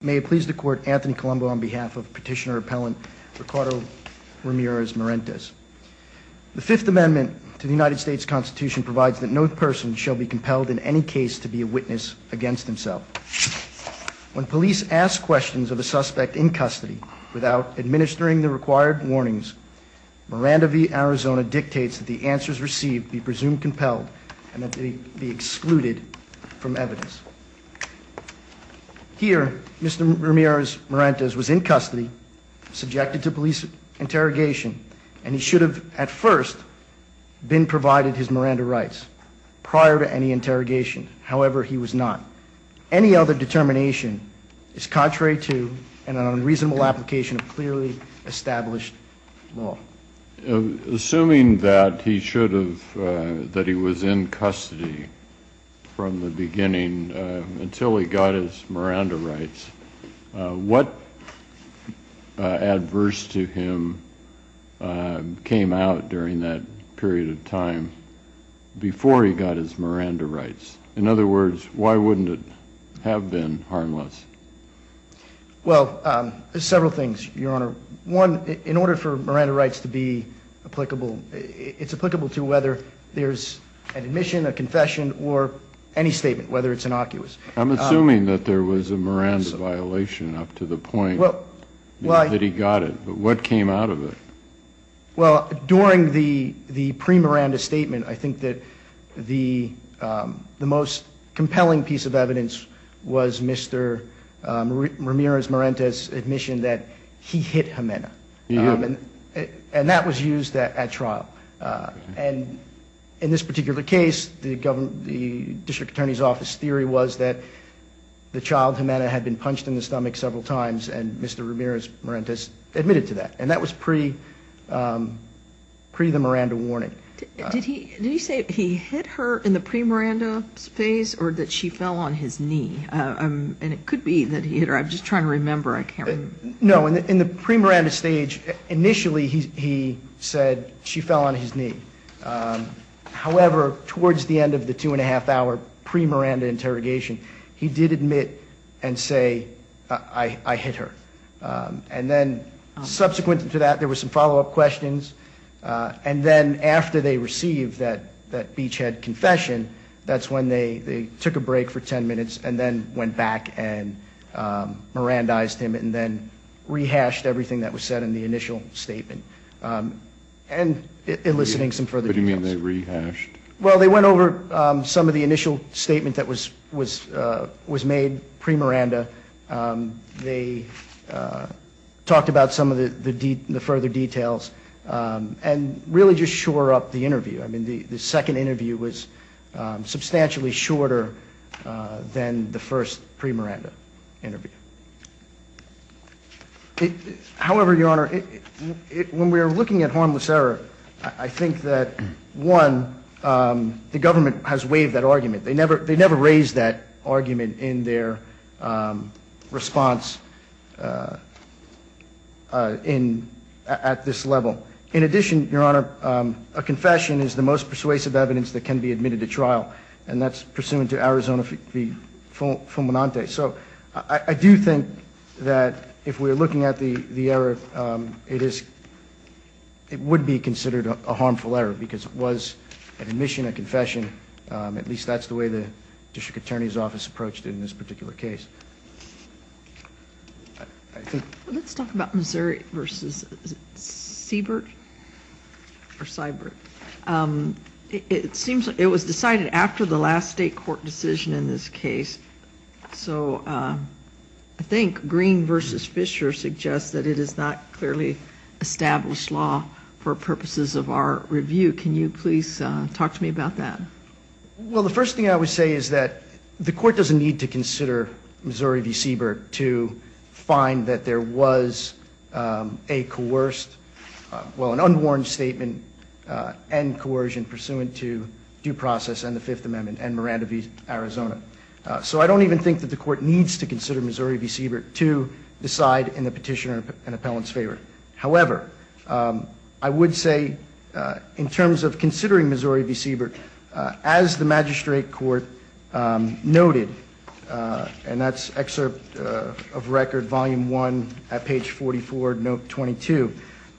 May it please the court, Anthony Colombo on behalf of petitioner-appellant Ricardo Ramirez-Marentes. The Fifth Amendment to the United States Constitution provides that no person shall be compelled in any case to be a witness against himself. When police ask questions of a suspect in custody without administering the required warnings, Miranda v. Arizona dictates that the answers received be presumed compelled and that they be excluded from evidence. Here, Mr. Ramirez-Marentes was in custody, subjected to police interrogation, and he should have at first been provided his Miranda rights prior to any interrogation. However, he was not. Any other determination is contrary to an unreasonable application of clearly established law. Assuming that he should have, that he was in custody from the beginning until he got his Miranda rights, what adverse to him came out during that period of time before he got his Miranda rights? In other words, why wouldn't it have been harmless? In order for Miranda rights to be applicable, it's applicable to whether there's an admission, a confession, or any statement, whether it's innocuous. I'm assuming that there was a Miranda violation up to the point that he got it, but what came out of it? Well, during the pre-Miranda statement, I think that the most compelling piece of evidence was Mr. Ramirez-Marentes' admission that he hit Ximena, and that was used at trial. And in this particular case, the district attorney's office theory was that the child, Ximena, had been punched in the stomach several times, and Mr. Ramirez-Marentes admitted to that, and that was pre-the Miranda warning. Did he say he hit her in the pre-Miranda phase, or that she fell on his knee? And it could be that he hit her, I'm just trying to remember, I can't remember. No, in the pre-Miranda stage, initially he said she fell on his knee. However, towards the end of the two-and-a-half-hour pre-Miranda interrogation, he did admit and say, I hit her. And then subsequent to that, there was some follow-up questions, and then after they received that beachhead confession, that's when they took a break for ten minutes, and then went back and Mirandized him, and then rehashed everything that was said in the initial statement, and eliciting some further details. What do you mean they rehashed? Well, they went over some of the initial statement that was made pre-Miranda. They talked about some of the further details, and really just shore up the interview. I mean, the second interview was substantially shorter than the first pre-Miranda interview. However, Your Honor, when we're looking at harmless error, I think that, one, the government has waived that argument. They never raised that argument in their response at this level. In addition, Your Honor, a confession is the most persuasive evidence that can be admitted to trial, and that's pursuant to Arizona v. Fulminante. So I do think that if we're looking at the error, it would be considered a harmful error, because it was an admission, a confession. At least that's the way the district attorney's office approached it in this particular case. Let's talk about Missouri v. Siebert or Seibert. It was decided after the last state court decision in this case. So I think Green v. Fisher suggests that it is not clearly established law for purposes of our review. Can you please talk to me about that? Well, the first thing I would say is that the court doesn't need to consider Missouri v. Siebert to find that there was a coerced, well, an unwarned statement and coercion pursuant to due process and the Fifth Amendment and Miranda v. Arizona. So I don't even think that the court needs to consider Missouri v. Siebert to decide in the petitioner and appellant's favor. However, I would say in terms of considering Missouri v. Siebert, as the magistrate court noted, and that's excerpt of record volume 1 at page 44, note 22,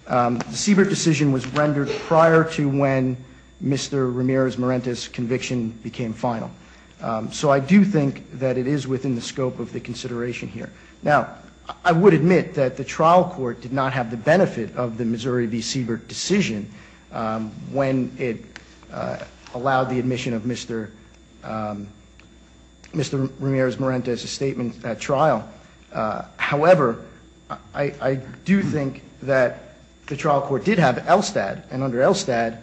the Siebert decision was rendered prior to when Mr. Ramirez-Marentes' conviction became final. So I do think that it is within the scope of the consideration here. Now, I would admit that the trial court did not have the benefit of the Missouri v. Siebert decision when it allowed the admission of Mr. Ramirez-Marentes' statement at trial. However, I do think that the trial court did have ELSTAD, and under ELSTAD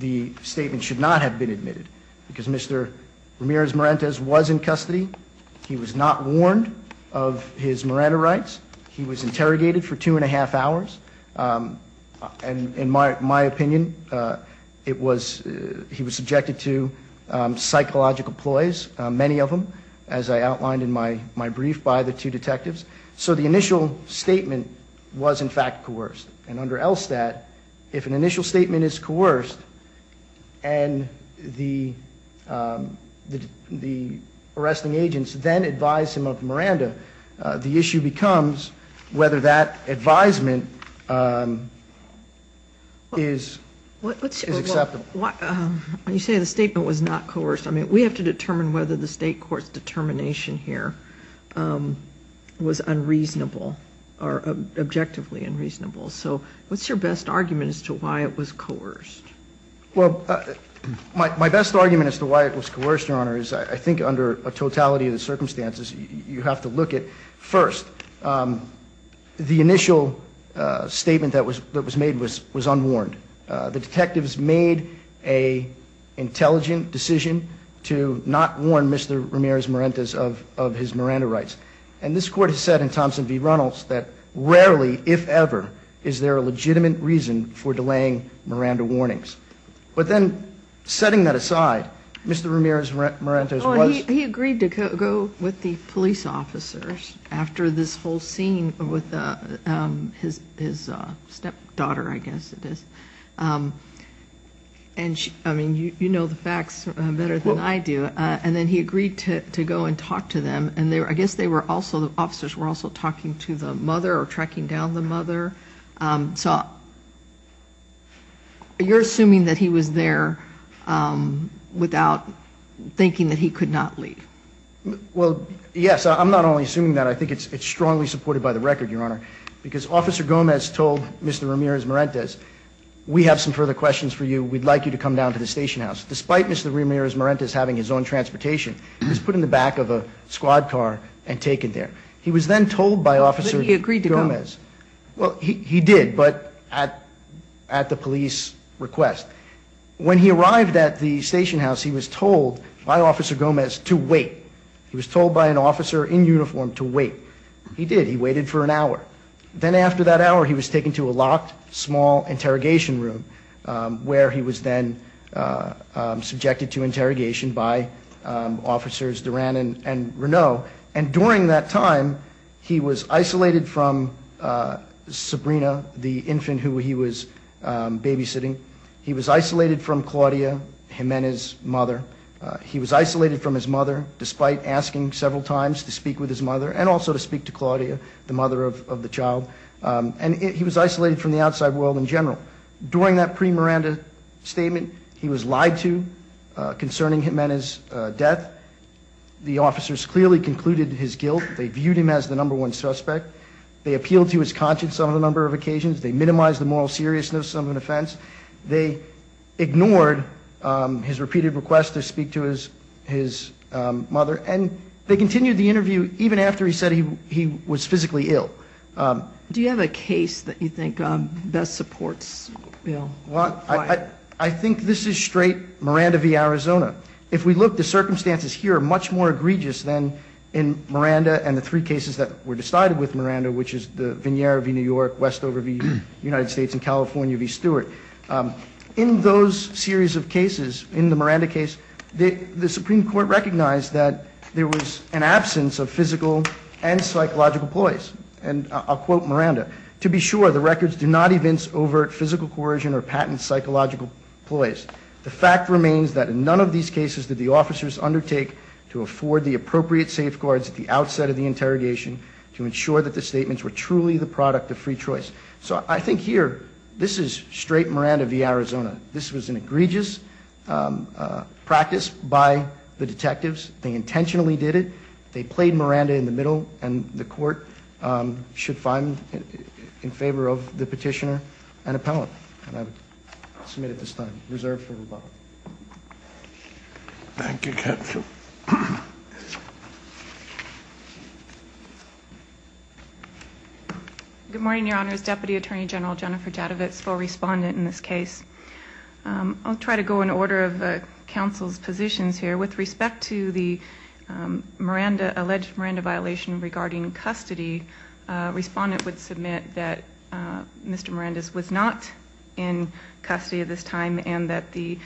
the statement should not have been admitted because Mr. Ramirez-Marentes was in custody. He was not warned of his Miranda rights. He was interrogated for two and a half hours. And in my opinion, he was subjected to psychological ploys, many of them, as I outlined in my brief by the two detectives. So the initial statement was, in fact, coerced. And under ELSTAD, if an initial statement is coerced and the arresting agents then advise him of Miranda, the issue becomes whether that advisement is acceptable. When you say the statement was not coerced, I mean, we have to determine whether the state court's determination here was unreasonable or objectively unreasonable. So what's your best argument as to why it was coerced? Well, my best argument as to why it was coerced, Your Honor, is I think under a totality of the circumstances, you have to look at, first, the initial statement that was made was unwarned. The detectives made an intelligent decision to not warn Mr. Ramirez-Marentes of his Miranda rights. And this court has said in Thompson v. Reynolds that rarely, if ever, is there a legitimate reason for delaying Miranda warnings. But then setting that aside, Mr. Ramirez-Marentes was- I mean, you know the facts better than I do. And then he agreed to go and talk to them. And I guess they were also-the officers were also talking to the mother or tracking down the mother. So you're assuming that he was there without thinking that he could not leave? Well, yes. I'm not only assuming that. I think it's strongly supported by the record, Your Honor, because Officer Gomez told Mr. Ramirez-Marentes, we have some further questions for you. We'd like you to come down to the station house. Despite Mr. Ramirez-Marentes having his own transportation, he was put in the back of a squad car and taken there. He was then told by Officer Gomez- But he agreed to go. Well, he did, but at the police request. When he arrived at the station house, he was told by Officer Gomez to wait. He was told by an officer in uniform to wait. He did. He waited for an hour. Then after that hour, he was taken to a locked, small interrogation room, where he was then subjected to interrogation by Officers Duran and Renaud. And during that time, he was isolated from Sabrina, the infant who he was babysitting. He was isolated from Claudia, Jimenez's mother. He was isolated from his mother, despite asking several times to speak with his mother and also to speak to Claudia, the mother of the child. And he was isolated from the outside world in general. During that pre-Miranda statement, he was lied to concerning Jimenez's death. The officers clearly concluded his guilt. They viewed him as the number one suspect. They appealed to his conscience on a number of occasions. They minimized the moral seriousness of an offense. They ignored his repeated requests to speak to his mother. And they continued the interview even after he said he was physically ill. Do you have a case that you think best supports Bill? I think this is straight Miranda v. Arizona. If we look, the circumstances here are much more egregious than in Miranda and the three cases that were decided with Miranda, which is the Vignera v. New York, Westover v. United States, and California v. Stewart. In those series of cases, in the Miranda case, the Supreme Court recognized that there was an absence of physical and psychological ploys. And I'll quote Miranda. To be sure, the records do not evince overt physical coercion or patent psychological ploys. The fact remains that in none of these cases did the officers undertake to afford the appropriate safeguards at the outset of the interrogation to ensure that the statements were truly the product of free choice. So I think here, this is straight Miranda v. Arizona. This was an egregious practice by the detectives. They intentionally did it. They played Miranda in the middle, and the court should find in favor of the petitioner an appellant. And I would submit at this time, reserved for rebuttal. Thank you, Counsel. Good morning, Your Honors. Deputy Attorney General Jennifer Jadovitz, co-respondent in this case. I'll try to go in order of counsel's positions here. With respect to the alleged Miranda violation regarding custody, respondent would submit that Mr. Miranda was not in custody at this time and that the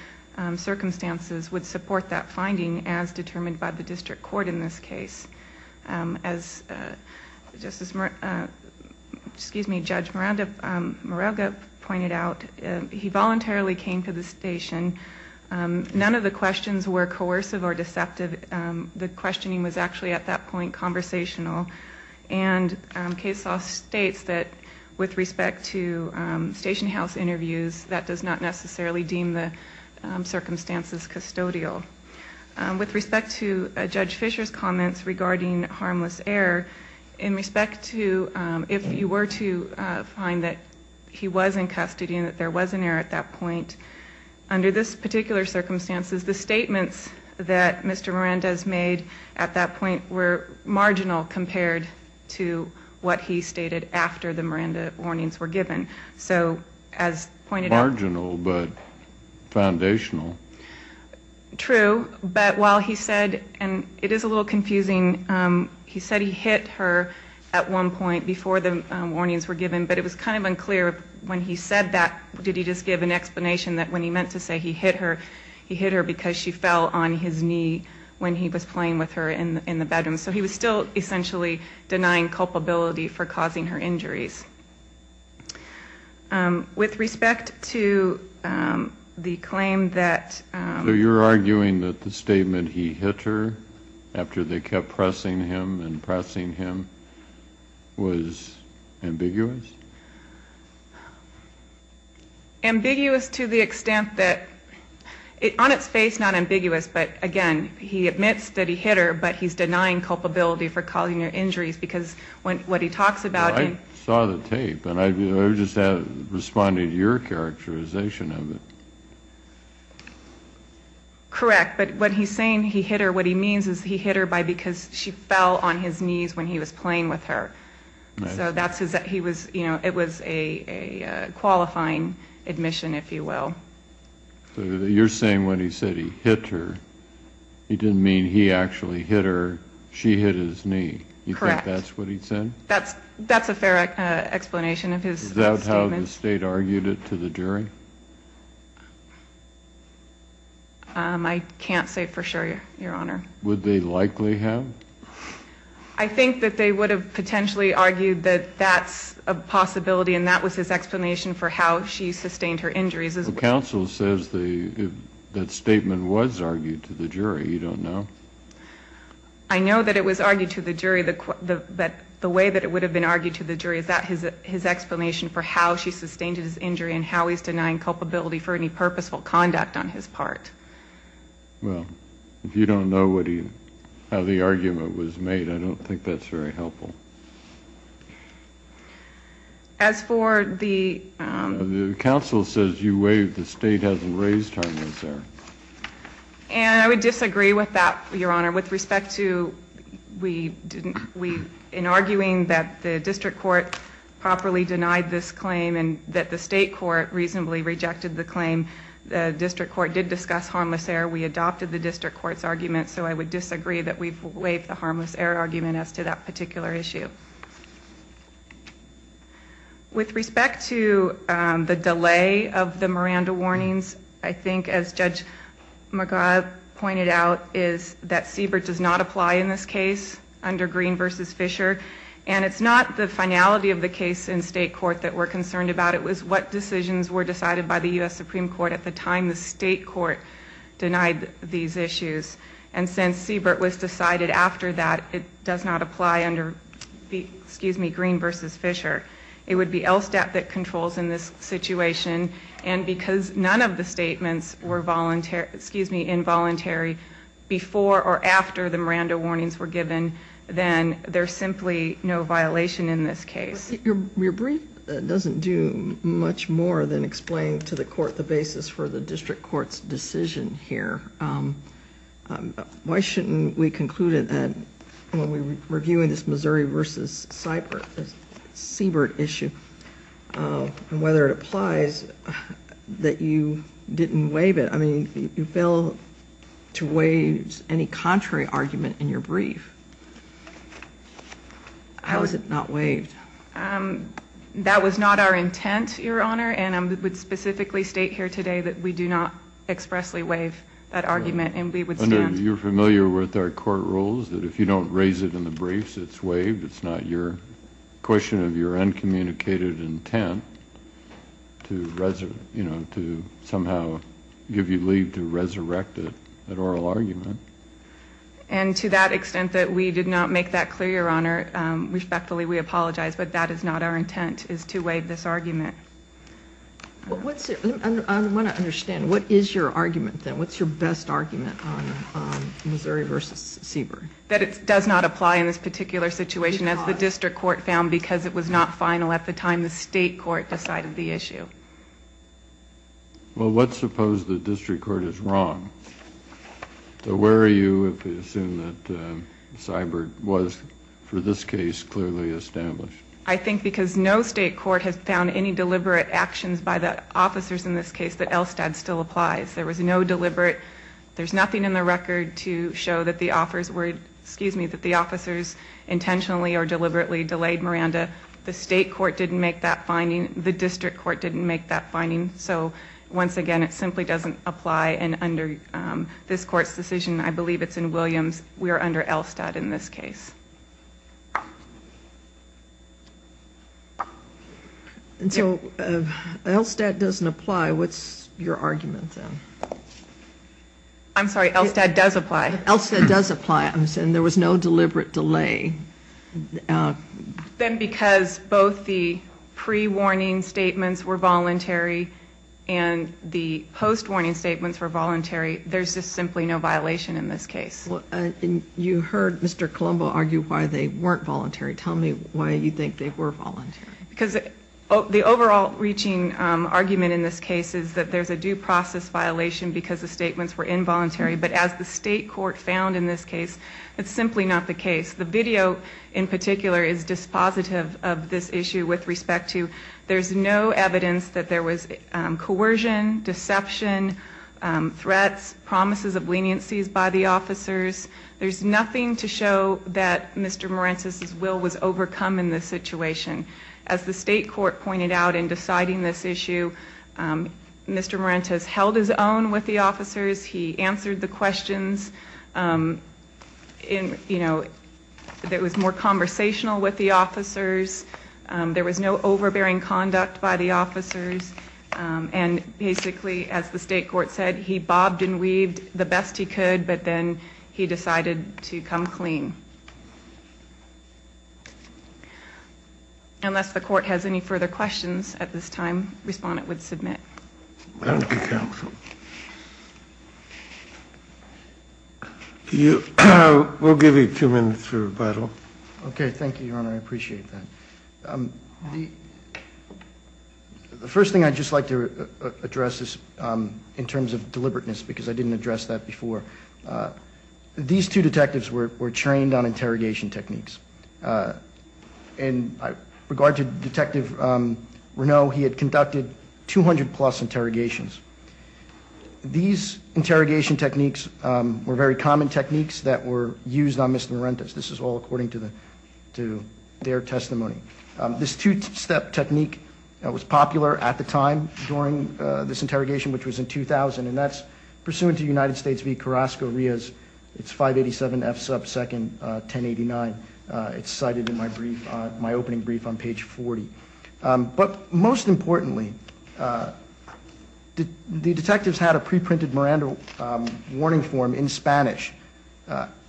circumstances would support that finding as determined by the district court in this case. As Judge Morelga pointed out, he voluntarily came to the station. None of the questions were coercive or deceptive. The questioning was actually at that point conversational. And case law states that with respect to station house interviews, that does not necessarily deem the circumstances custodial. With respect to Judge Fisher's comments regarding harmless error, in respect to if you were to find that he was in custody and that there was an error at that point, under this particular circumstances, the statements that Mr. Miranda has made at that point were marginal compared to what he stated after the Miranda warnings were given. So, as pointed out... Marginal, but foundational. True. But while he said, and it is a little confusing, he said he hit her at one point before the warnings were given, but it was kind of unclear when he said that, did he just give an explanation that when he meant to say he hit her, because she fell on his knee when he was playing with her in the bedroom. So he was still essentially denying culpability for causing her injuries. With respect to the claim that... So you're arguing that the statement, he hit her, after they kept pressing him and pressing him, was ambiguous? Ambiguous to the extent that... On its face, not ambiguous, but again, he admits that he hit her, but he's denying culpability for causing her injuries, because what he talks about... Well, I saw the tape, and I just responded to your characterization of it. Correct. But when he's saying he hit her, what he means is he hit her because she fell on his knees when he was playing with her. So it was a qualifying admission, if you will. So you're saying when he said he hit her, he didn't mean he actually hit her, she hit his knee. Correct. You think that's what he said? That's a fair explanation of his statement. Is that how the state argued it to the jury? I can't say for sure, Your Honor. Would they likely have? I think that they would have potentially argued that that's a possibility, and that was his explanation for how she sustained her injuries. Well, counsel says that statement was argued to the jury. You don't know? I know that it was argued to the jury, but the way that it would have been argued to the jury, is that his explanation for how she sustained his injury and how he's denying culpability for any purposeful conduct on his part. Well, if you don't know how the argument was made, I don't think that's very helpful. As for the... The counsel says you waived, the state hasn't raised her, has there? And I would disagree with that, Your Honor. With respect to, in arguing that the district court properly denied this claim and that the state court reasonably rejected the claim, the district court did discuss harmless error. We adopted the district court's argument, so I would disagree that we've waived the harmless error argument as to that particular issue. With respect to the delay of the Miranda warnings, I think, as Judge McGaugh pointed out, is that Siebert does not apply in this case, under Green v. Fisher, and it's not the finality of the case in state court that we're concerned about. It was what decisions were decided by the U.S. Supreme Court at the time the state court denied these issues. And since Siebert was decided after that, it does not apply under Green v. Fisher. It would be LSTAT that controls in this situation, and because none of the statements were involuntary before or after the Miranda warnings were given, then there's simply no violation in this case. Your brief doesn't do much more than explain to the court the basis for the district court's decision here. Why shouldn't we conclude that when we were reviewing this Missouri v. Siebert issue, and whether it applies, that you didn't waive it? I mean, you failed to waive any contrary argument in your brief. How is it not waived? That was not our intent, Your Honor, and I would specifically state here today that we do not expressly waive that argument, and we would stand. You're familiar with our court rules that if you don't raise it in the briefs, it's waived. It's not your question of your uncommunicated intent to somehow give you leave to resurrect an oral argument. And to that extent that we did not make that clear, Your Honor, respectfully we apologize, but that is not our intent, is to waive this argument. I want to understand, what is your argument then? What's your best argument on Missouri v. Siebert? That it does not apply in this particular situation, as the district court found because it was not final at the time the state court decided the issue. Well, let's suppose the district court is wrong. So where are you if you assume that Siebert was, for this case, clearly established? I think because no state court has found any deliberate actions by the officers in this case that Elstad still applies. There was no deliberate. There's nothing in the record to show that the officers intentionally or deliberately delayed Miranda. The state court didn't make that finding. The district court didn't make that finding. So once again, it simply doesn't apply, and under this court's decision, I believe it's in Williams, we are under Elstad in this case. And so Elstad doesn't apply. What's your argument then? I'm sorry, Elstad does apply. Elstad does apply, and there was no deliberate delay. Then because both the pre-warning statements were voluntary and the post-warning statements were voluntary, there's just simply no violation in this case. You heard Mr. Colombo argue why they weren't voluntary. Tell me why you think they were voluntary. Because the overall reaching argument in this case is that there's a due process violation because the statements were involuntary. But as the state court found in this case, it's simply not the case. The video in particular is dispositive of this issue with respect to there's no evidence that there was coercion, deception, threats, promises of leniencies by the officers. There's nothing to show that Mr. Marentes' will was overcome in this situation. As the state court pointed out in deciding this issue, Mr. Marentes held his own with the officers. He answered the questions. It was more conversational with the officers. There was no overbearing conduct by the officers. And basically, as the state court said, he bobbed and weaved the best he could, but then he decided to come clean. Unless the court has any further questions at this time, respondent would submit. Thank you, counsel. We'll give you two minutes for rebuttal. Okay, thank you, Your Honor. I appreciate that. The first thing I'd just like to address is in terms of deliberateness because I didn't address that before. These two detectives were trained on interrogation techniques. In regard to Detective Reneau, he had conducted 200-plus interrogations. These interrogation techniques were very common techniques that were used on Mr. Marentes. This is all according to their testimony. This two-step technique was popular at the time during this interrogation, which was in 2000, and that's pursuant to United States v. Carrasco-Rios. It's 587 F sub 2nd, 1089. It's cited in my opening brief on page 40. But most importantly, the detectives had a preprinted Miranda warning form in Spanish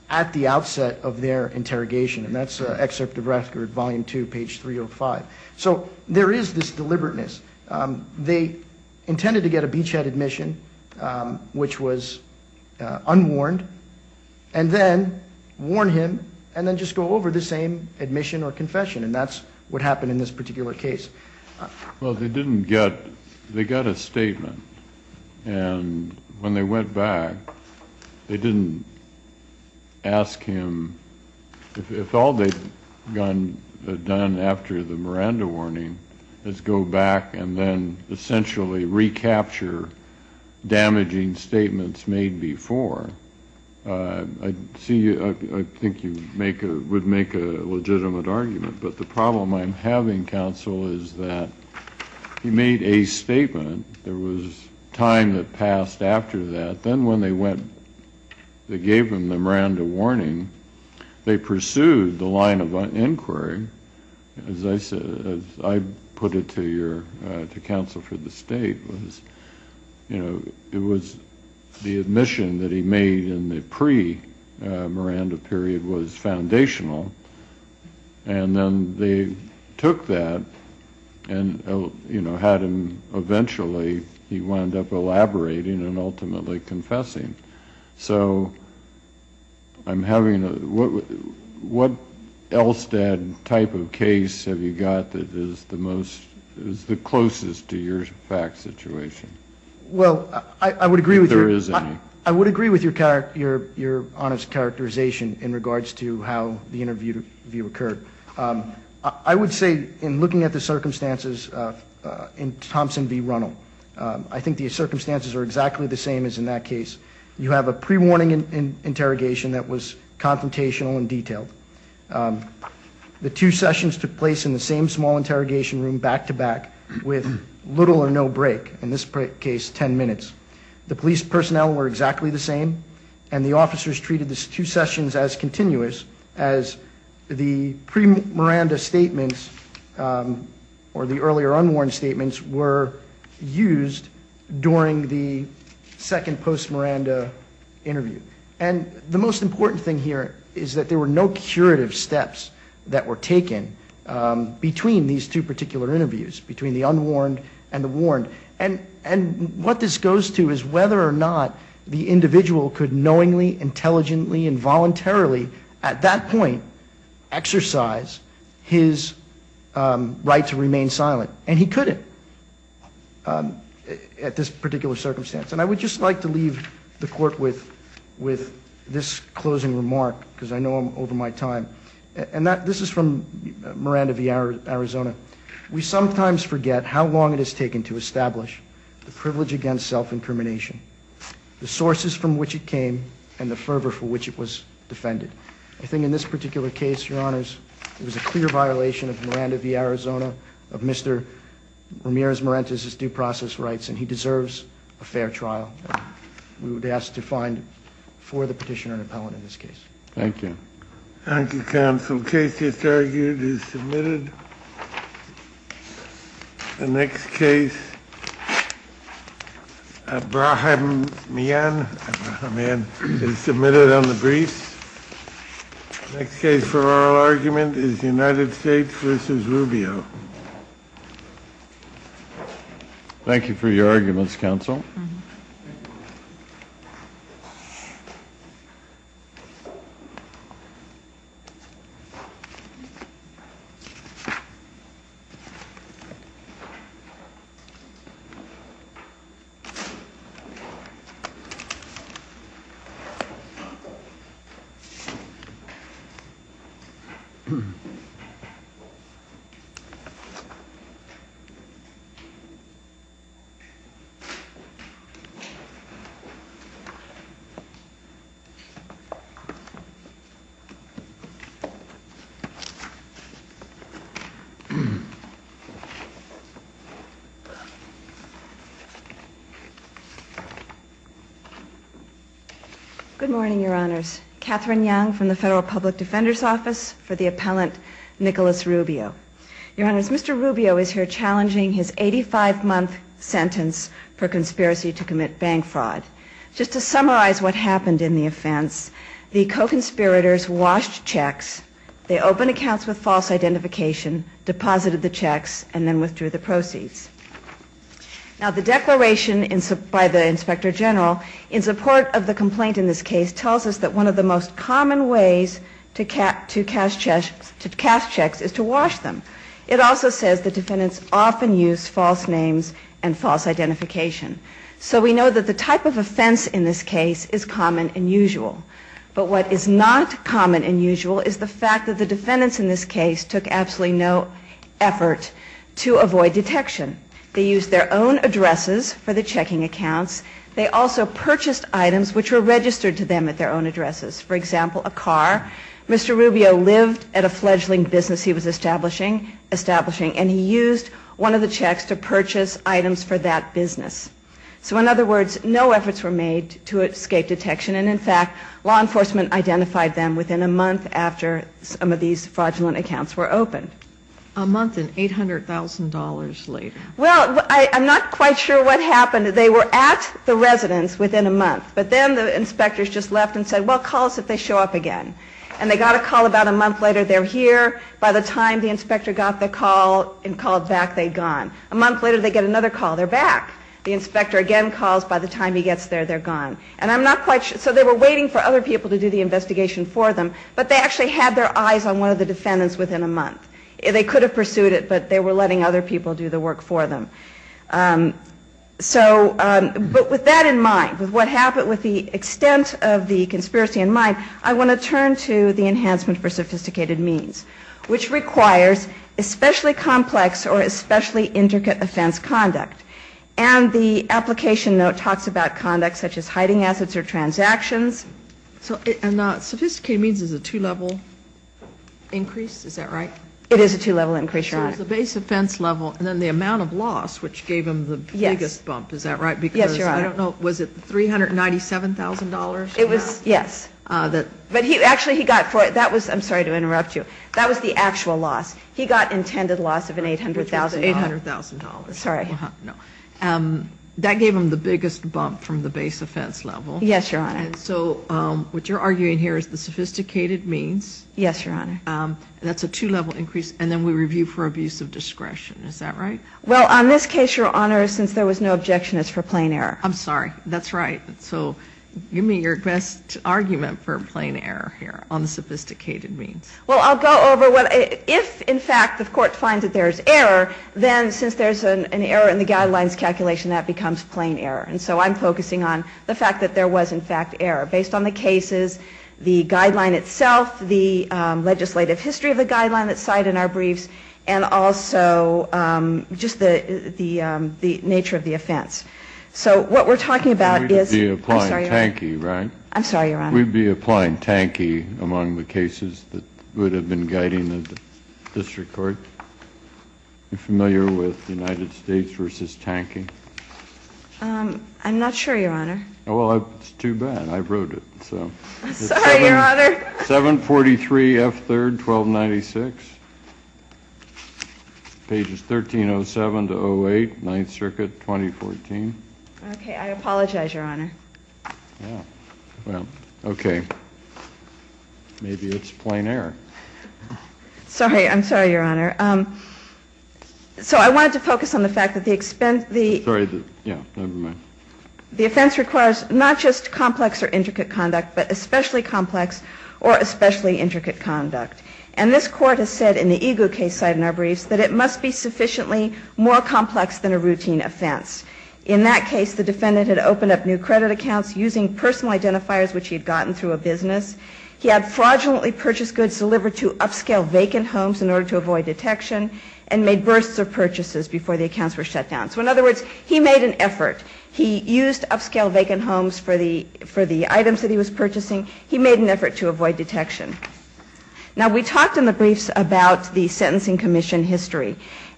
at the outset of their interrogation, and that's Excerpt of Rascard, Volume 2, page 305. So there is this deliberateness. They intended to get a beachhead admission, which was unwarned, and then warn him and then just go over the same admission or confession, and that's what happened in this particular case. Well, they didn't get the statement, and when they went back, they didn't ask him. If all they've done after the Miranda warning is go back and then essentially recapture damaging statements made before, I think you would make a legitimate argument. But the problem I'm having, counsel, is that he made a statement. There was time that passed after that. But then when they gave him the Miranda warning, they pursued the line of inquiry. As I put it to counsel for the State, it was the admission that he made in the pre-Miranda period was foundational, and then they took that and had him eventually, he wound up elaborating and ultimately confessing. So what Elstad type of case have you got that is the closest to your fact situation? Well, I would agree with your honest characterization in regards to how the interview occurred. I would say in looking at the circumstances in Thompson v. Runnell, I think the circumstances are exactly the same as in that case. You have a pre-warning interrogation that was confrontational and detailed. The two sessions took place in the same small interrogation room, back to back, with little or no break, in this case 10 minutes. The police personnel were exactly the same, and the officers treated the two sessions as continuous as the pre-Miranda statements or the earlier unwarned statements were used during the second post-Miranda interview. And the most important thing here is that there were no curative steps that were taken between these two particular interviews, between the unwarned and the warned. And what this goes to is whether or not the individual could knowingly, intelligently, and voluntarily at that point exercise his right to remain silent. And he couldn't at this particular circumstance. And I would just like to leave the Court with this closing remark, because I know I'm over my time, and this is from Miranda v. Arizona. We sometimes forget how long it has taken to establish the privilege against self-incrimination, the sources from which it came, and the fervor for which it was defended. I think in this particular case, Your Honors, it was a clear violation of Miranda v. Arizona, of Mr. Ramirez-Marentes' due process rights, and he deserves a fair trial. We would ask to find for the petitioner an appellant in this case. Thank you. Thank you, Counsel. The case just argued is submitted. The next case, Abraham Mian, is submitted on the briefs. The next case for oral argument is United States v. Rubio. Thank you for your arguments, Counsel. Good morning, Your Honors. Catherine Young from the Federal Public Defender's Office for the appellant Nicholas Rubio. Your Honors, Mr. Rubio is here challenging his 85-month sentence for conspiracy to commit bank fraud. Just to summarize what happened in the offense, the co-conspirators washed checks, they opened accounts with false identification, deposited the checks, and then withdrew the proceeds. Now, the declaration by the Inspector General in support of the complaint in this case tells us that one of the most common ways to cash checks is to wash them. It also says the defendants often use false names and false identification. So we know that the type of offense in this case is common and usual. But what is not common and usual is the fact that the defendants in this case took absolutely no effort to avoid detection. They used their own addresses for the checking accounts. They also purchased items which were registered to them at their own addresses. For example, a car. Mr. Rubio lived at a fledgling business he was establishing, and he used one of the checks to purchase items for that business. So in other words, no efforts were made to escape detection, and in fact, law enforcement identified them within a month after some of these fraudulent accounts were opened. A month and $800,000 later. Well, I'm not quite sure what happened. They were at the residence within a month, but then the inspectors just left and said, well, call us if they show up again. And they got a call about a month later. They're here. By the time the inspector got the call and called back, they'd gone. A month later, they get another call. They're back. The inspector again calls. By the time he gets there, they're gone. And I'm not quite sure. So they were waiting for other people to do the investigation for them, but they actually had their eyes on one of the defendants within a month. They could have pursued it, but they were letting other people do the work for them. But with that in mind, with what happened, with the extent of the conspiracy in mind, I want to turn to the enhancement for sophisticated means, which requires especially complex or especially intricate offense conduct. And the application note talks about conduct such as hiding assets or transactions. And sophisticated means is a two-level increase. Is that right? It is a two-level increase, Your Honor. So it's the base offense level and then the amount of loss, which gave him the biggest bump. Is that right? Yes, Your Honor. I don't know. Was it $397,000? Yes. But actually he got for it. I'm sorry to interrupt you. That was the actual loss. He got intended loss of $800,000. Sorry. That gave him the biggest bump from the base offense level. Yes, Your Honor. So what you're arguing here is the sophisticated means. Yes, Your Honor. That's a two-level increase. And then we review for abuse of discretion. Is that right? Well, on this case, Your Honor, since there was no objection, it's for plain error. I'm sorry. That's right. So give me your best argument for plain error here on the sophisticated means. Well, I'll go over what if, in fact, the court finds that there's error, then since there's an error in the guidelines calculation, that becomes plain error. And so I'm focusing on the fact that there was, in fact, error based on the cases, the guideline itself, the legislative history of the guideline that's cited in our briefs, and also just the nature of the offense. So what we're talking about is – I'm sorry, Your Honor. Would have been guiding the district court. Are you familiar with United States v. Tanking? I'm not sure, Your Honor. Well, it's too bad. I wrote it. Sorry, Your Honor. 743 F. 3rd, 1296. Pages 1307 to 08, Ninth Circuit, 2014. Okay. I apologize, Your Honor. Well, okay. Maybe it's plain error. Sorry. I'm sorry, Your Honor. So I wanted to focus on the fact that the – Sorry. Yeah, never mind. The offense requires not just complex or intricate conduct, but especially complex or especially intricate conduct. And this court has said in the EGLE case cited in our briefs that it must be sufficiently more complex than a routine offense. In that case, the defendant had opened up new credit accounts using personal identifiers which he had gotten through a business. He had fraudulently purchased goods delivered to upscale vacant homes in order to avoid detection and made bursts of purchases before the accounts were shut down. So in other words, he made an effort. He used upscale vacant homes for the items that he was purchasing. He made an effort to avoid detection. Now, we talked in the briefs about the Sentencing Commission history.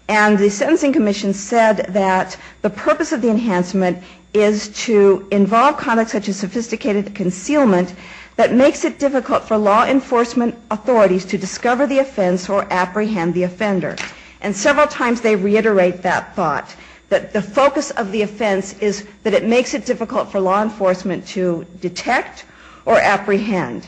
And the Sentencing Commission said that the purpose of the enhancement is to involve conduct such as sophisticated concealment that makes it difficult for law enforcement authorities to discover the offense or apprehend the offender. And several times they reiterate that thought, that the focus of the offense is that it makes it difficult for law enforcement to detect or apprehend.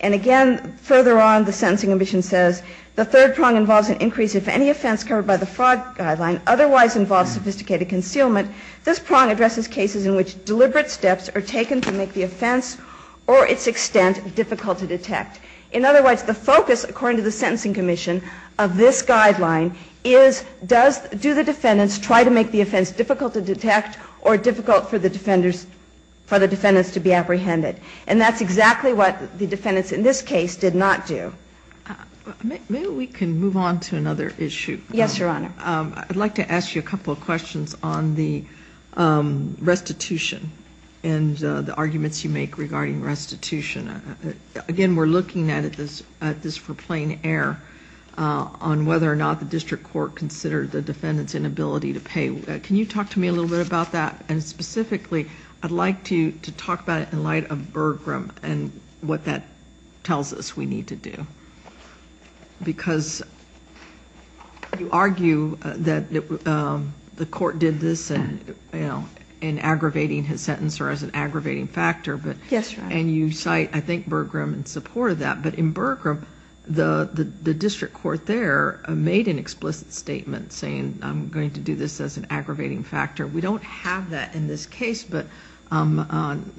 And again, further on, the Sentencing Commission says, the third prong involves an increase if any offense covered by the fraud guideline otherwise involves sophisticated concealment. This prong addresses cases in which deliberate steps are taken to make the offense or its extent difficult to detect. In other words, the focus, according to the Sentencing Commission, of this guideline is, do the defendants try to make the offense difficult to detect or difficult for the defendants to be apprehended? And that's exactly what the defendants in this case did not do. Maybe we can move on to another issue. Yes, Your Honor. I'd like to ask you a couple of questions on the restitution and the arguments you make regarding restitution. Again, we're looking at this for plain air on whether or not the district court considered the defendant's inability to pay. Can you talk to me a little bit about that? And specifically, I'd like to talk about it in light of Bergram and what that tells us we need to do. Because you argue that the court did this in aggravating his sentence or as an aggravating factor. Yes, Your Honor. And you cite, I think, Bergram in support of that. But in Bergram, the district court there made an explicit statement saying, I'm going to do this as an aggravating factor. We don't have that in this case, but I'm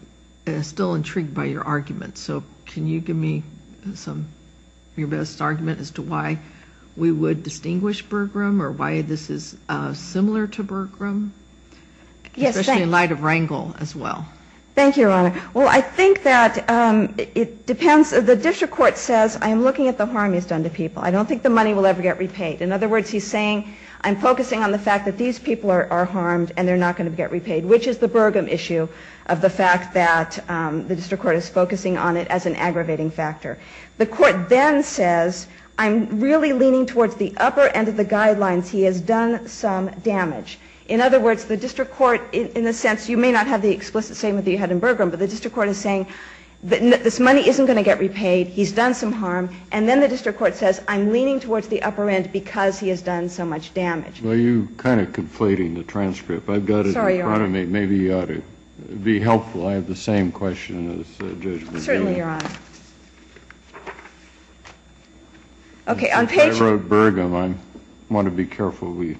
still intrigued by your argument. So can you give me your best argument as to why we would distinguish Bergram or why this is similar to Bergram? Yes. Especially in light of Rangel as well. Thank you, Your Honor. Well, I think that it depends. The district court says, I'm looking at the harm he's done to people. I don't think the money will ever get repaid. In other words, he's saying, I'm focusing on the fact that these people are harmed and they're not going to get repaid, which is the Bergram issue of the fact that the district court is focusing on it as an aggravating factor. The court then says, I'm really leaning towards the upper end of the guidelines. He has done some damage. In other words, the district court, in a sense, you may not have the explicit statement that you had in Bergram, but the district court is saying, this money isn't going to get repaid. He's done some harm. And then the district court says, I'm leaning towards the upper end because he has done so much damage. Well, you're kind of conflating the transcript. I've got it in front of me. Sorry, Your Honor. Maybe it would be helpful. I have the same question as Judge McGill. Certainly, Your Honor. Okay. I wrote Bergram. I want to be careful we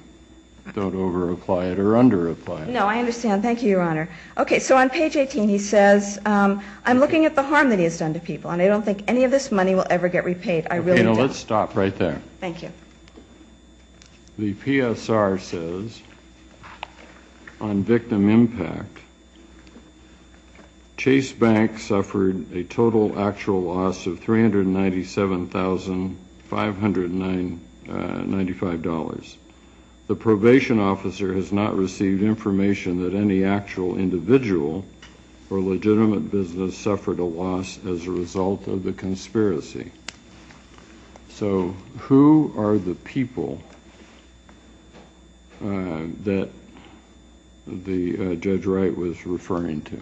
don't over-apply it or under-apply it. No, I understand. Thank you, Your Honor. Okay. So on page 18, he says, I'm looking at the harm that he has done to people. And I don't think any of this money will ever get repaid. I really don't. Okay, now let's stop right there. Thank you. The PSR says, on victim impact, Chase Bank suffered a total actual loss of $397,595. The probation officer has not received information that any actual individual or legitimate business suffered a loss as a result of the conspiracy. So who are the people that Judge Wright was referring to?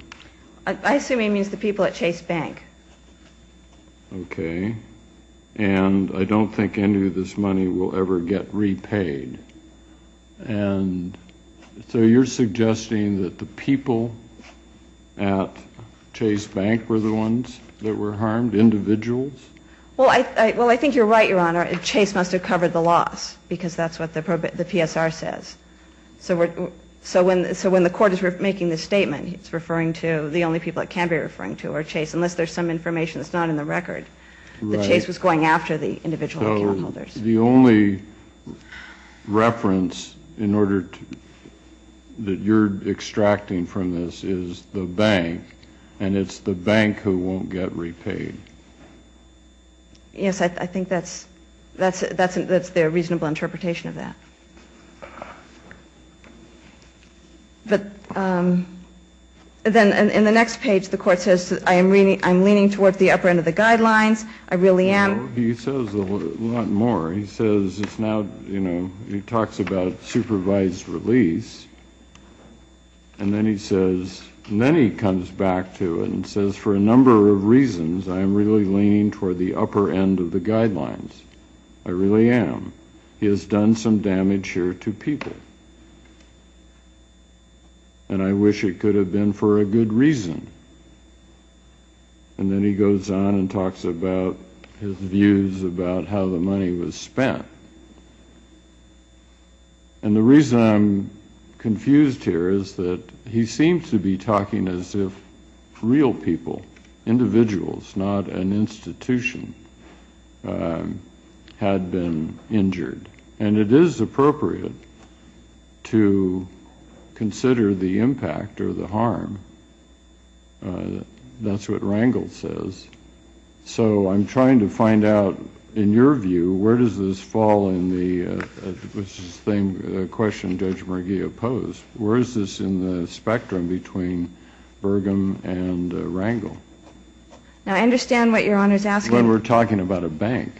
I assume he means the people at Chase Bank. Okay. And I don't think any of this money will ever get repaid. And so you're suggesting that the people at Chase Bank were the ones that were harmed, individuals? Well, I think you're right, Your Honor. Chase must have covered the loss because that's what the PSR says. So when the court is making this statement, it's referring to the only people it can be referring to are Chase, unless there's some information that's not in the record that Chase was going after the individual account holders. So the only reference that you're extracting from this is the bank, and it's the bank who won't get repaid. Yes, I think that's their reasonable interpretation of that. But then in the next page, the court says, I'm leaning towards the upper end of the guidelines. I really am. No, he says a lot more. He says it's now, you know, he talks about supervised release. And then he says, and then he comes back to it and says, for a number of reasons, I'm really leaning toward the upper end of the guidelines. I really am. He has done some damage here to people. And I wish it could have been for a good reason. And then he goes on and talks about his views about how the money was spent. And the reason I'm confused here is that he seems to be talking as if real people, individuals, not an institution, had been injured. And it is appropriate to consider the impact or the harm. That's what Rangel says. So I'm trying to find out, in your view, where does this fall in the question Judge McGee opposed? Where is this in the spectrum between Burgum and Rangel? Now, I understand what Your Honor is asking. But we're talking about a bank.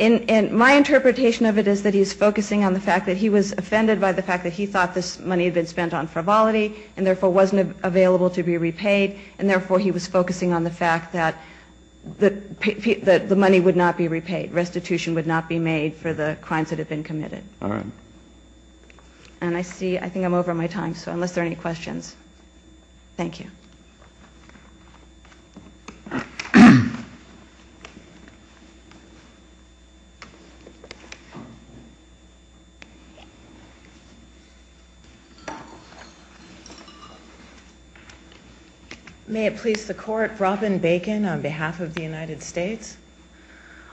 And my interpretation of it is that he's focusing on the fact that he was offended by the fact that he thought this money had been spent on frivolity and therefore wasn't available to be repaid. And therefore, he was focusing on the fact that the money would not be repaid. Restitution would not be made for the crimes that had been committed. All right. And I think I'm over my time, so unless there are any questions. Thank you. May it please the Court, Robin Bacon on behalf of the United States.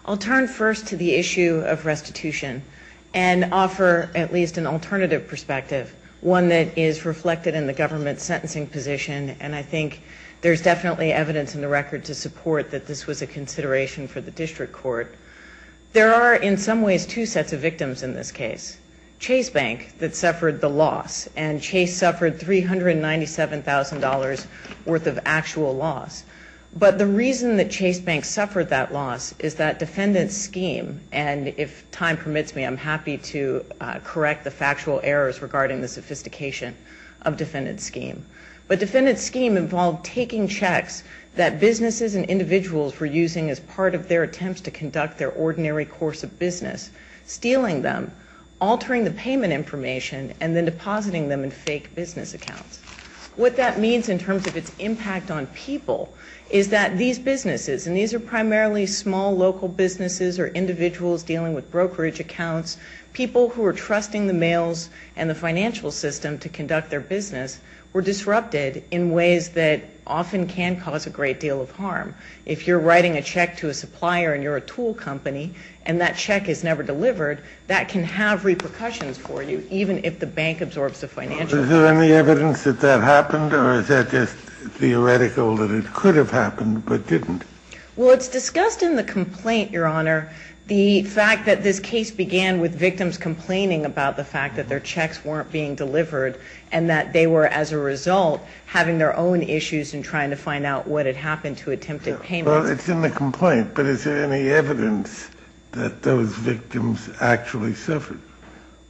I'll turn first to the issue of restitution and offer at least an alternative perspective, one that is reflected in the government's sentencing position. And I think there's definitely evidence in the record to support that this was a consideration for the district court. There are, in some ways, two sets of victims in this case. Chase Bank that suffered the loss. And Chase suffered $397,000 worth of actual loss. But the reason that Chase Bank suffered that loss is that defendant's scheme, and if time permits me, I'm happy to correct the factual errors regarding the sophistication of defendant's scheme. But defendant's scheme involved taking checks that businesses and individuals were using as part of their attempts to conduct their ordinary course of business, stealing them, altering the payment information, and then depositing them in fake business accounts. What that means in terms of its impact on people is that these businesses, and these are primarily small local businesses or individuals dealing with brokerage accounts, people who are trusting the mails and the financial system to conduct their business, were disrupted in ways that often can cause a great deal of harm. If you're writing a check to a supplier and you're a tool company and that check is never delivered, that can have repercussions for you, even if the bank absorbs the financials. Is there any evidence that that happened, or is that just theoretical that it could have happened but didn't? Well, it's discussed in the complaint, Your Honor, the fact that this case began with victims complaining about the fact that their checks weren't being delivered and that they were, as a result, having their own issues in trying to find out what had happened to attempted payments. Well, it's in the complaint, but is there any evidence that those victims actually suffered?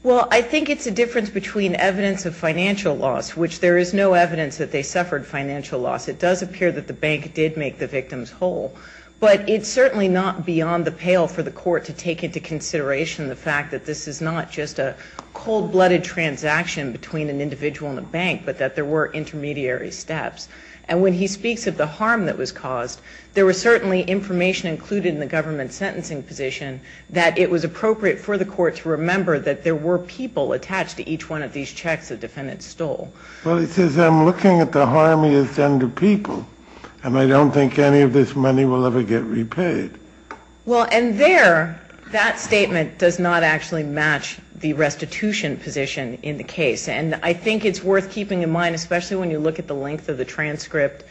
Well, I think it's a difference between evidence of financial loss, which there is no evidence that they suffered financial loss. It does appear that the bank did make the victims whole, but it's certainly not beyond the pale for the court to take into consideration the fact that this is not just a cold-blooded transaction between an individual and a bank, but that there were intermediary steps. And when he speaks of the harm that was caused, there was certainly information included in the government sentencing position that it was appropriate for the court to remember that there were people attached to each one of these checks the defendant stole. Well, it says, I'm looking at the harm he has done to people, and I don't think any of this money will ever get repaid. Well, and there, that statement does not actually match the restitution position in the case. And I think it's worth keeping in mind, especially when you look at the length of the transcript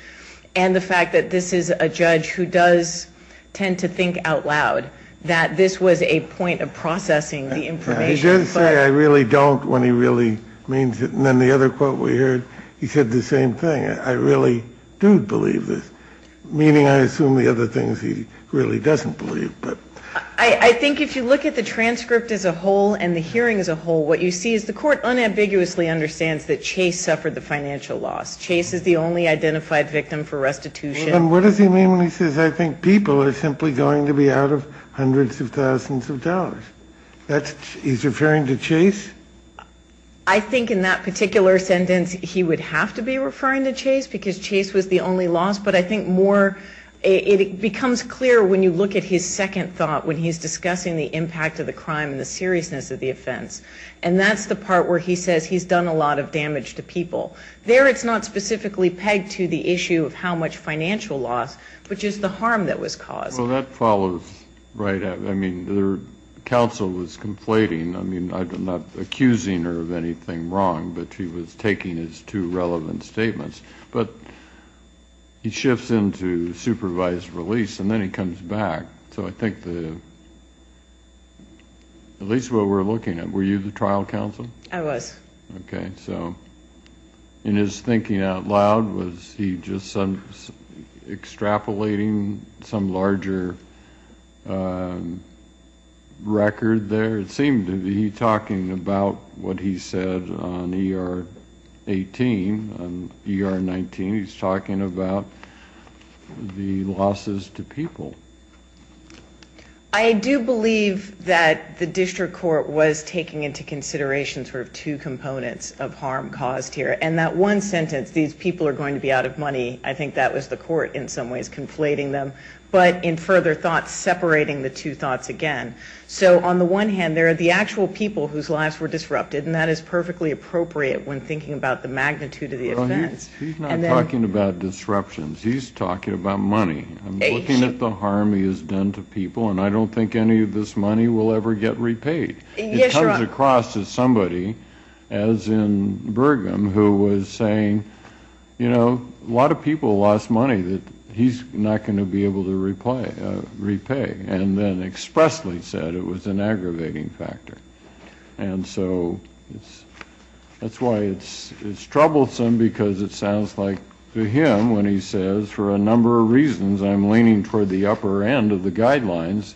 and the fact that this is a judge who does tend to think out loud that this was a point of processing the information. He did say, I really don't, when he really means it. And then the other quote we heard, he said the same thing, I really do believe this, meaning I assume the other things he really doesn't believe. I think if you look at the transcript as a whole and the hearing as a whole, what you see is the court unambiguously understands that Chase suffered the financial loss. Chase is the only identified victim for restitution. And what does he mean when he says, I think people are simply going to be out of hundreds of thousands of dollars? He's referring to Chase? I think in that particular sentence, he would have to be referring to Chase, because Chase was the only loss, but I think more, it becomes clear when you look at his second thought, when he's discussing the impact of the crime and the seriousness of the offense. And that's the part where he says he's done a lot of damage to people. There it's not specifically pegged to the issue of how much financial loss, but just the harm that was caused. Well, that follows right out. I mean, the counsel was conflating. I mean, not accusing her of anything wrong, but she was taking his two relevant statements. But he shifts into supervised release, and then he comes back. So I think at least what we're looking at, were you the trial counsel? I was. Okay. So in his thinking out loud, was he just extrapolating some larger record there? It seemed to me he's talking about what he said on ER 18, on ER 19. He's talking about the losses to people. I do believe that the district court was taking into consideration sort of two components of harm caused here. And that one sentence, these people are going to be out of money, I think that was the court in some ways conflating them. But in further thought, separating the two thoughts again. So on the one hand, there are the actual people whose lives were disrupted, and that is perfectly appropriate when thinking about the magnitude of the events. He's not talking about disruptions. He's talking about money. I'm looking at the harm he has done to people, and I don't think any of this money will ever get repaid. It comes across as somebody, as in Burgum, who was saying, you know, a lot of people lost money that he's not going to be able to repay. And then expressly said it was an aggravating factor. And so that's why it's troublesome because it sounds like to him when he says, for a number of reasons I'm leaning toward the upper end of the guidelines,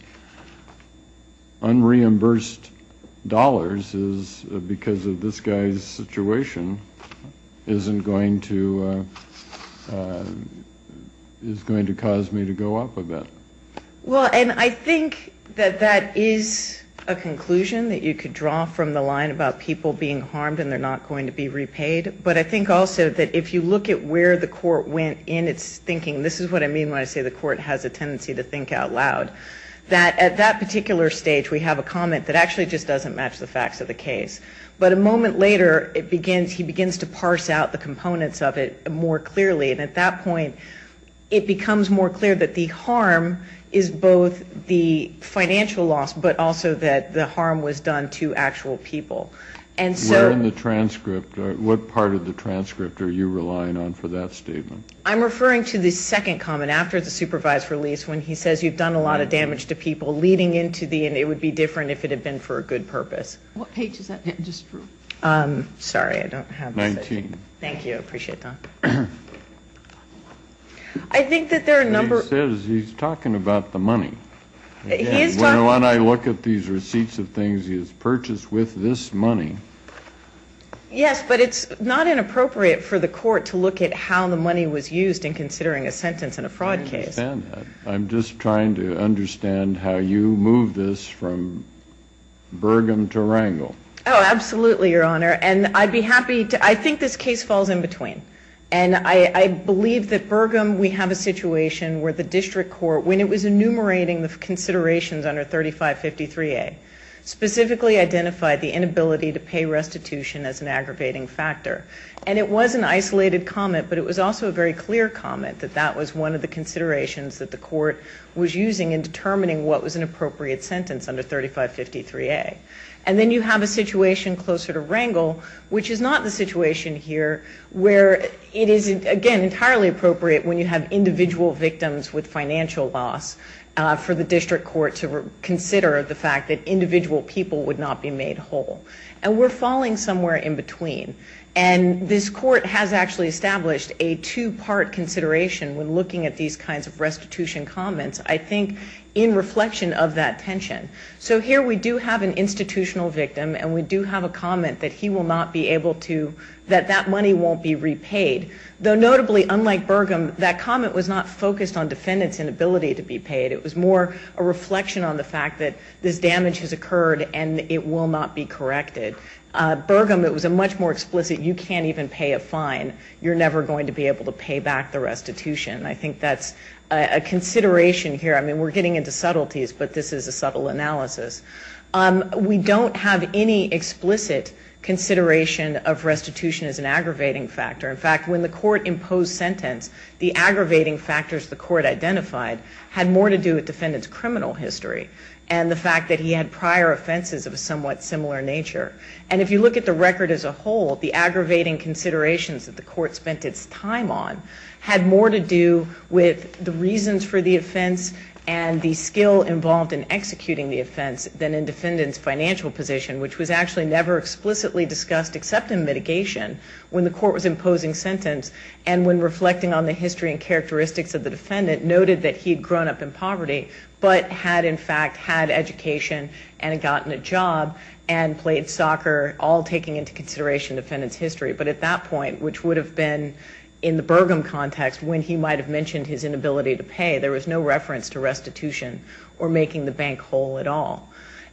unreimbursed dollars is because of this guy's situation isn't going to cause me to go up a bit. Well, and I think that that is a conclusion that you could draw from the line about people being harmed and they're not going to be repaid. But I think also that if you look at where the court went in its thinking, this is what I mean when I say the court has a tendency to think out loud, that at that particular stage we have a comment that actually just doesn't match the facts of the case. But a moment later he begins to parse out the components of it more clearly. And at that point it becomes more clear that the harm is both the financial loss but also that the harm was done to actual people. Where in the transcript, what part of the transcript are you relying on for that statement? I'm referring to the second comment after the supervised release when he says you've done a lot of damage to people leading into the and it would be different if it had been for a good purpose. What page is that? Sorry, I don't have it. 19. Thank you. I appreciate that. He says he's talking about the money. When I look at these receipts of things he has purchased with this money. Yes, but it's not inappropriate for the court to look at how the money was used in considering a sentence in a fraud case. I understand that. I'm just trying to understand how you move this from Burgum to Wrangell. Oh, absolutely, Your Honor. I think this case falls in between. And I believe that Burgum, we have a situation where the district court, when it was enumerating the considerations under 3553A, specifically identified the inability to pay restitution as an aggravating factor. And it was an isolated comment, but it was also a very clear comment that that was one of the considerations that the court was using in determining what was an appropriate sentence under 3553A. And then you have a situation closer to Wrangell, which is not the situation here where it is, again, entirely appropriate when you have individual victims with financial loss for the district court to consider the fact that individual people would not be made whole. And we're falling somewhere in between. And this court has actually established a two-part consideration when looking at these kinds of restitution comments, I think, in reflection of that tension. So here we do have an institutional victim, and we do have a comment that he will not be able to, that that money won't be repaid. Though, notably, unlike Burgum, that comment was not focused on defendants' inability to be paid. It was more a reflection on the fact that this damage has occurred and it will not be corrected. Burgum, it was a much more explicit, you can't even pay a fine, you're never going to be able to pay back the restitution. I think that's a consideration here. I mean, we're getting into subtleties, but this is a subtle analysis. We don't have any explicit consideration of restitution as an aggravating factor. In fact, when the court imposed sentence, the aggravating factors the court identified had more to do with defendants' criminal history and the fact that he had prior offenses of a somewhat similar nature. And if you look at the record as a whole, the aggravating considerations that the court spent its time on had more to do with the reasons for the offense and the skill involved in executing the offense than in defendants' financial position, which was actually never explicitly discussed except in mitigation when the court was imposing sentence and when reflecting on the history and characteristics of the defendant noted that he had grown up in poverty but had, in fact, had education and gotten a job and played soccer, all taking into consideration defendants' history. But at that point, which would have been in the Burgum context when he might have mentioned his inability to pay, there was no reference to restitution or making the bank whole at all.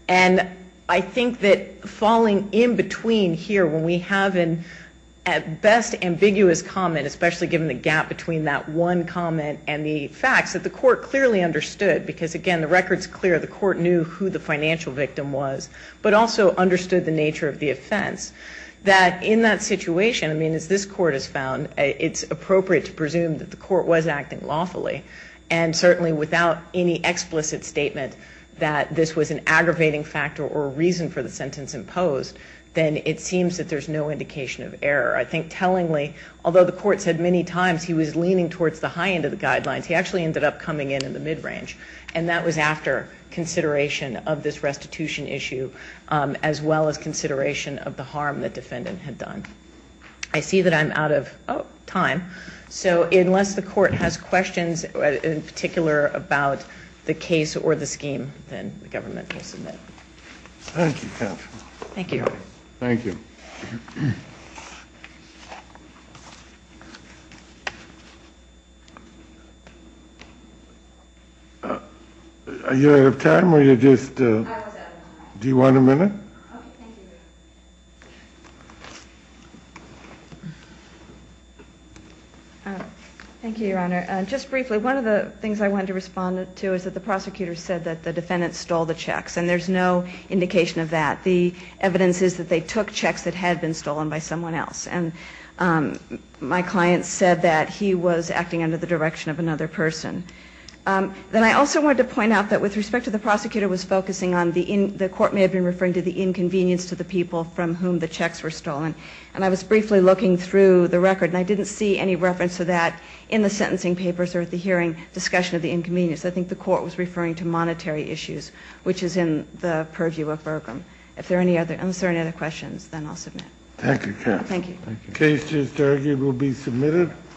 And I think that falling in between here when we have an at best ambiguous comment, especially given the gap between that one comment and the facts, that the court clearly understood, because, again, the record's clear. The court knew who the financial victim was, but also understood the nature of the offense, that in that situation, I mean, as this court has found, it's appropriate to presume that the court was acting lawfully and certainly without any explicit statement that this was an aggravating factor or a reason for the sentence imposed, then it seems that there's no indication of error. I think tellingly, although the court said many times he was leaning towards the high end of the guidelines, he actually ended up coming in in the mid-range, and that was after consideration of this restitution issue as well as consideration of the harm the defendant had done. I see that I'm out of time, so unless the court has questions in particular about the case or the scheme, then the government will submit. Thank you, counsel. Thank you. Thank you. Are you out of time, or you just... I was out of time. Do you want a minute? Okay, thank you. Thank you, Your Honor. Just briefly, one of the things I wanted to respond to is that the prosecutor said that the defendant stole the checks, and there's no indication of that. The evidence is that they took checks that had been stolen by someone else, and my client said that he was acting under the direction of another person. Then I also wanted to point out that with respect to the prosecutor was focusing on the... The court may have been referring to the inconvenience to the people from whom the checks were stolen, and I was briefly looking through the record, and I didn't see any reference to that in the sentencing papers or at the hearing, discussion of the inconvenience. I think the court was referring to monetary issues, which is in the purview of Bergam. If there are any other... Unless there are any other questions, then I'll submit. Thank you, counsel. Thank you. The case, it's argued, will be submitted.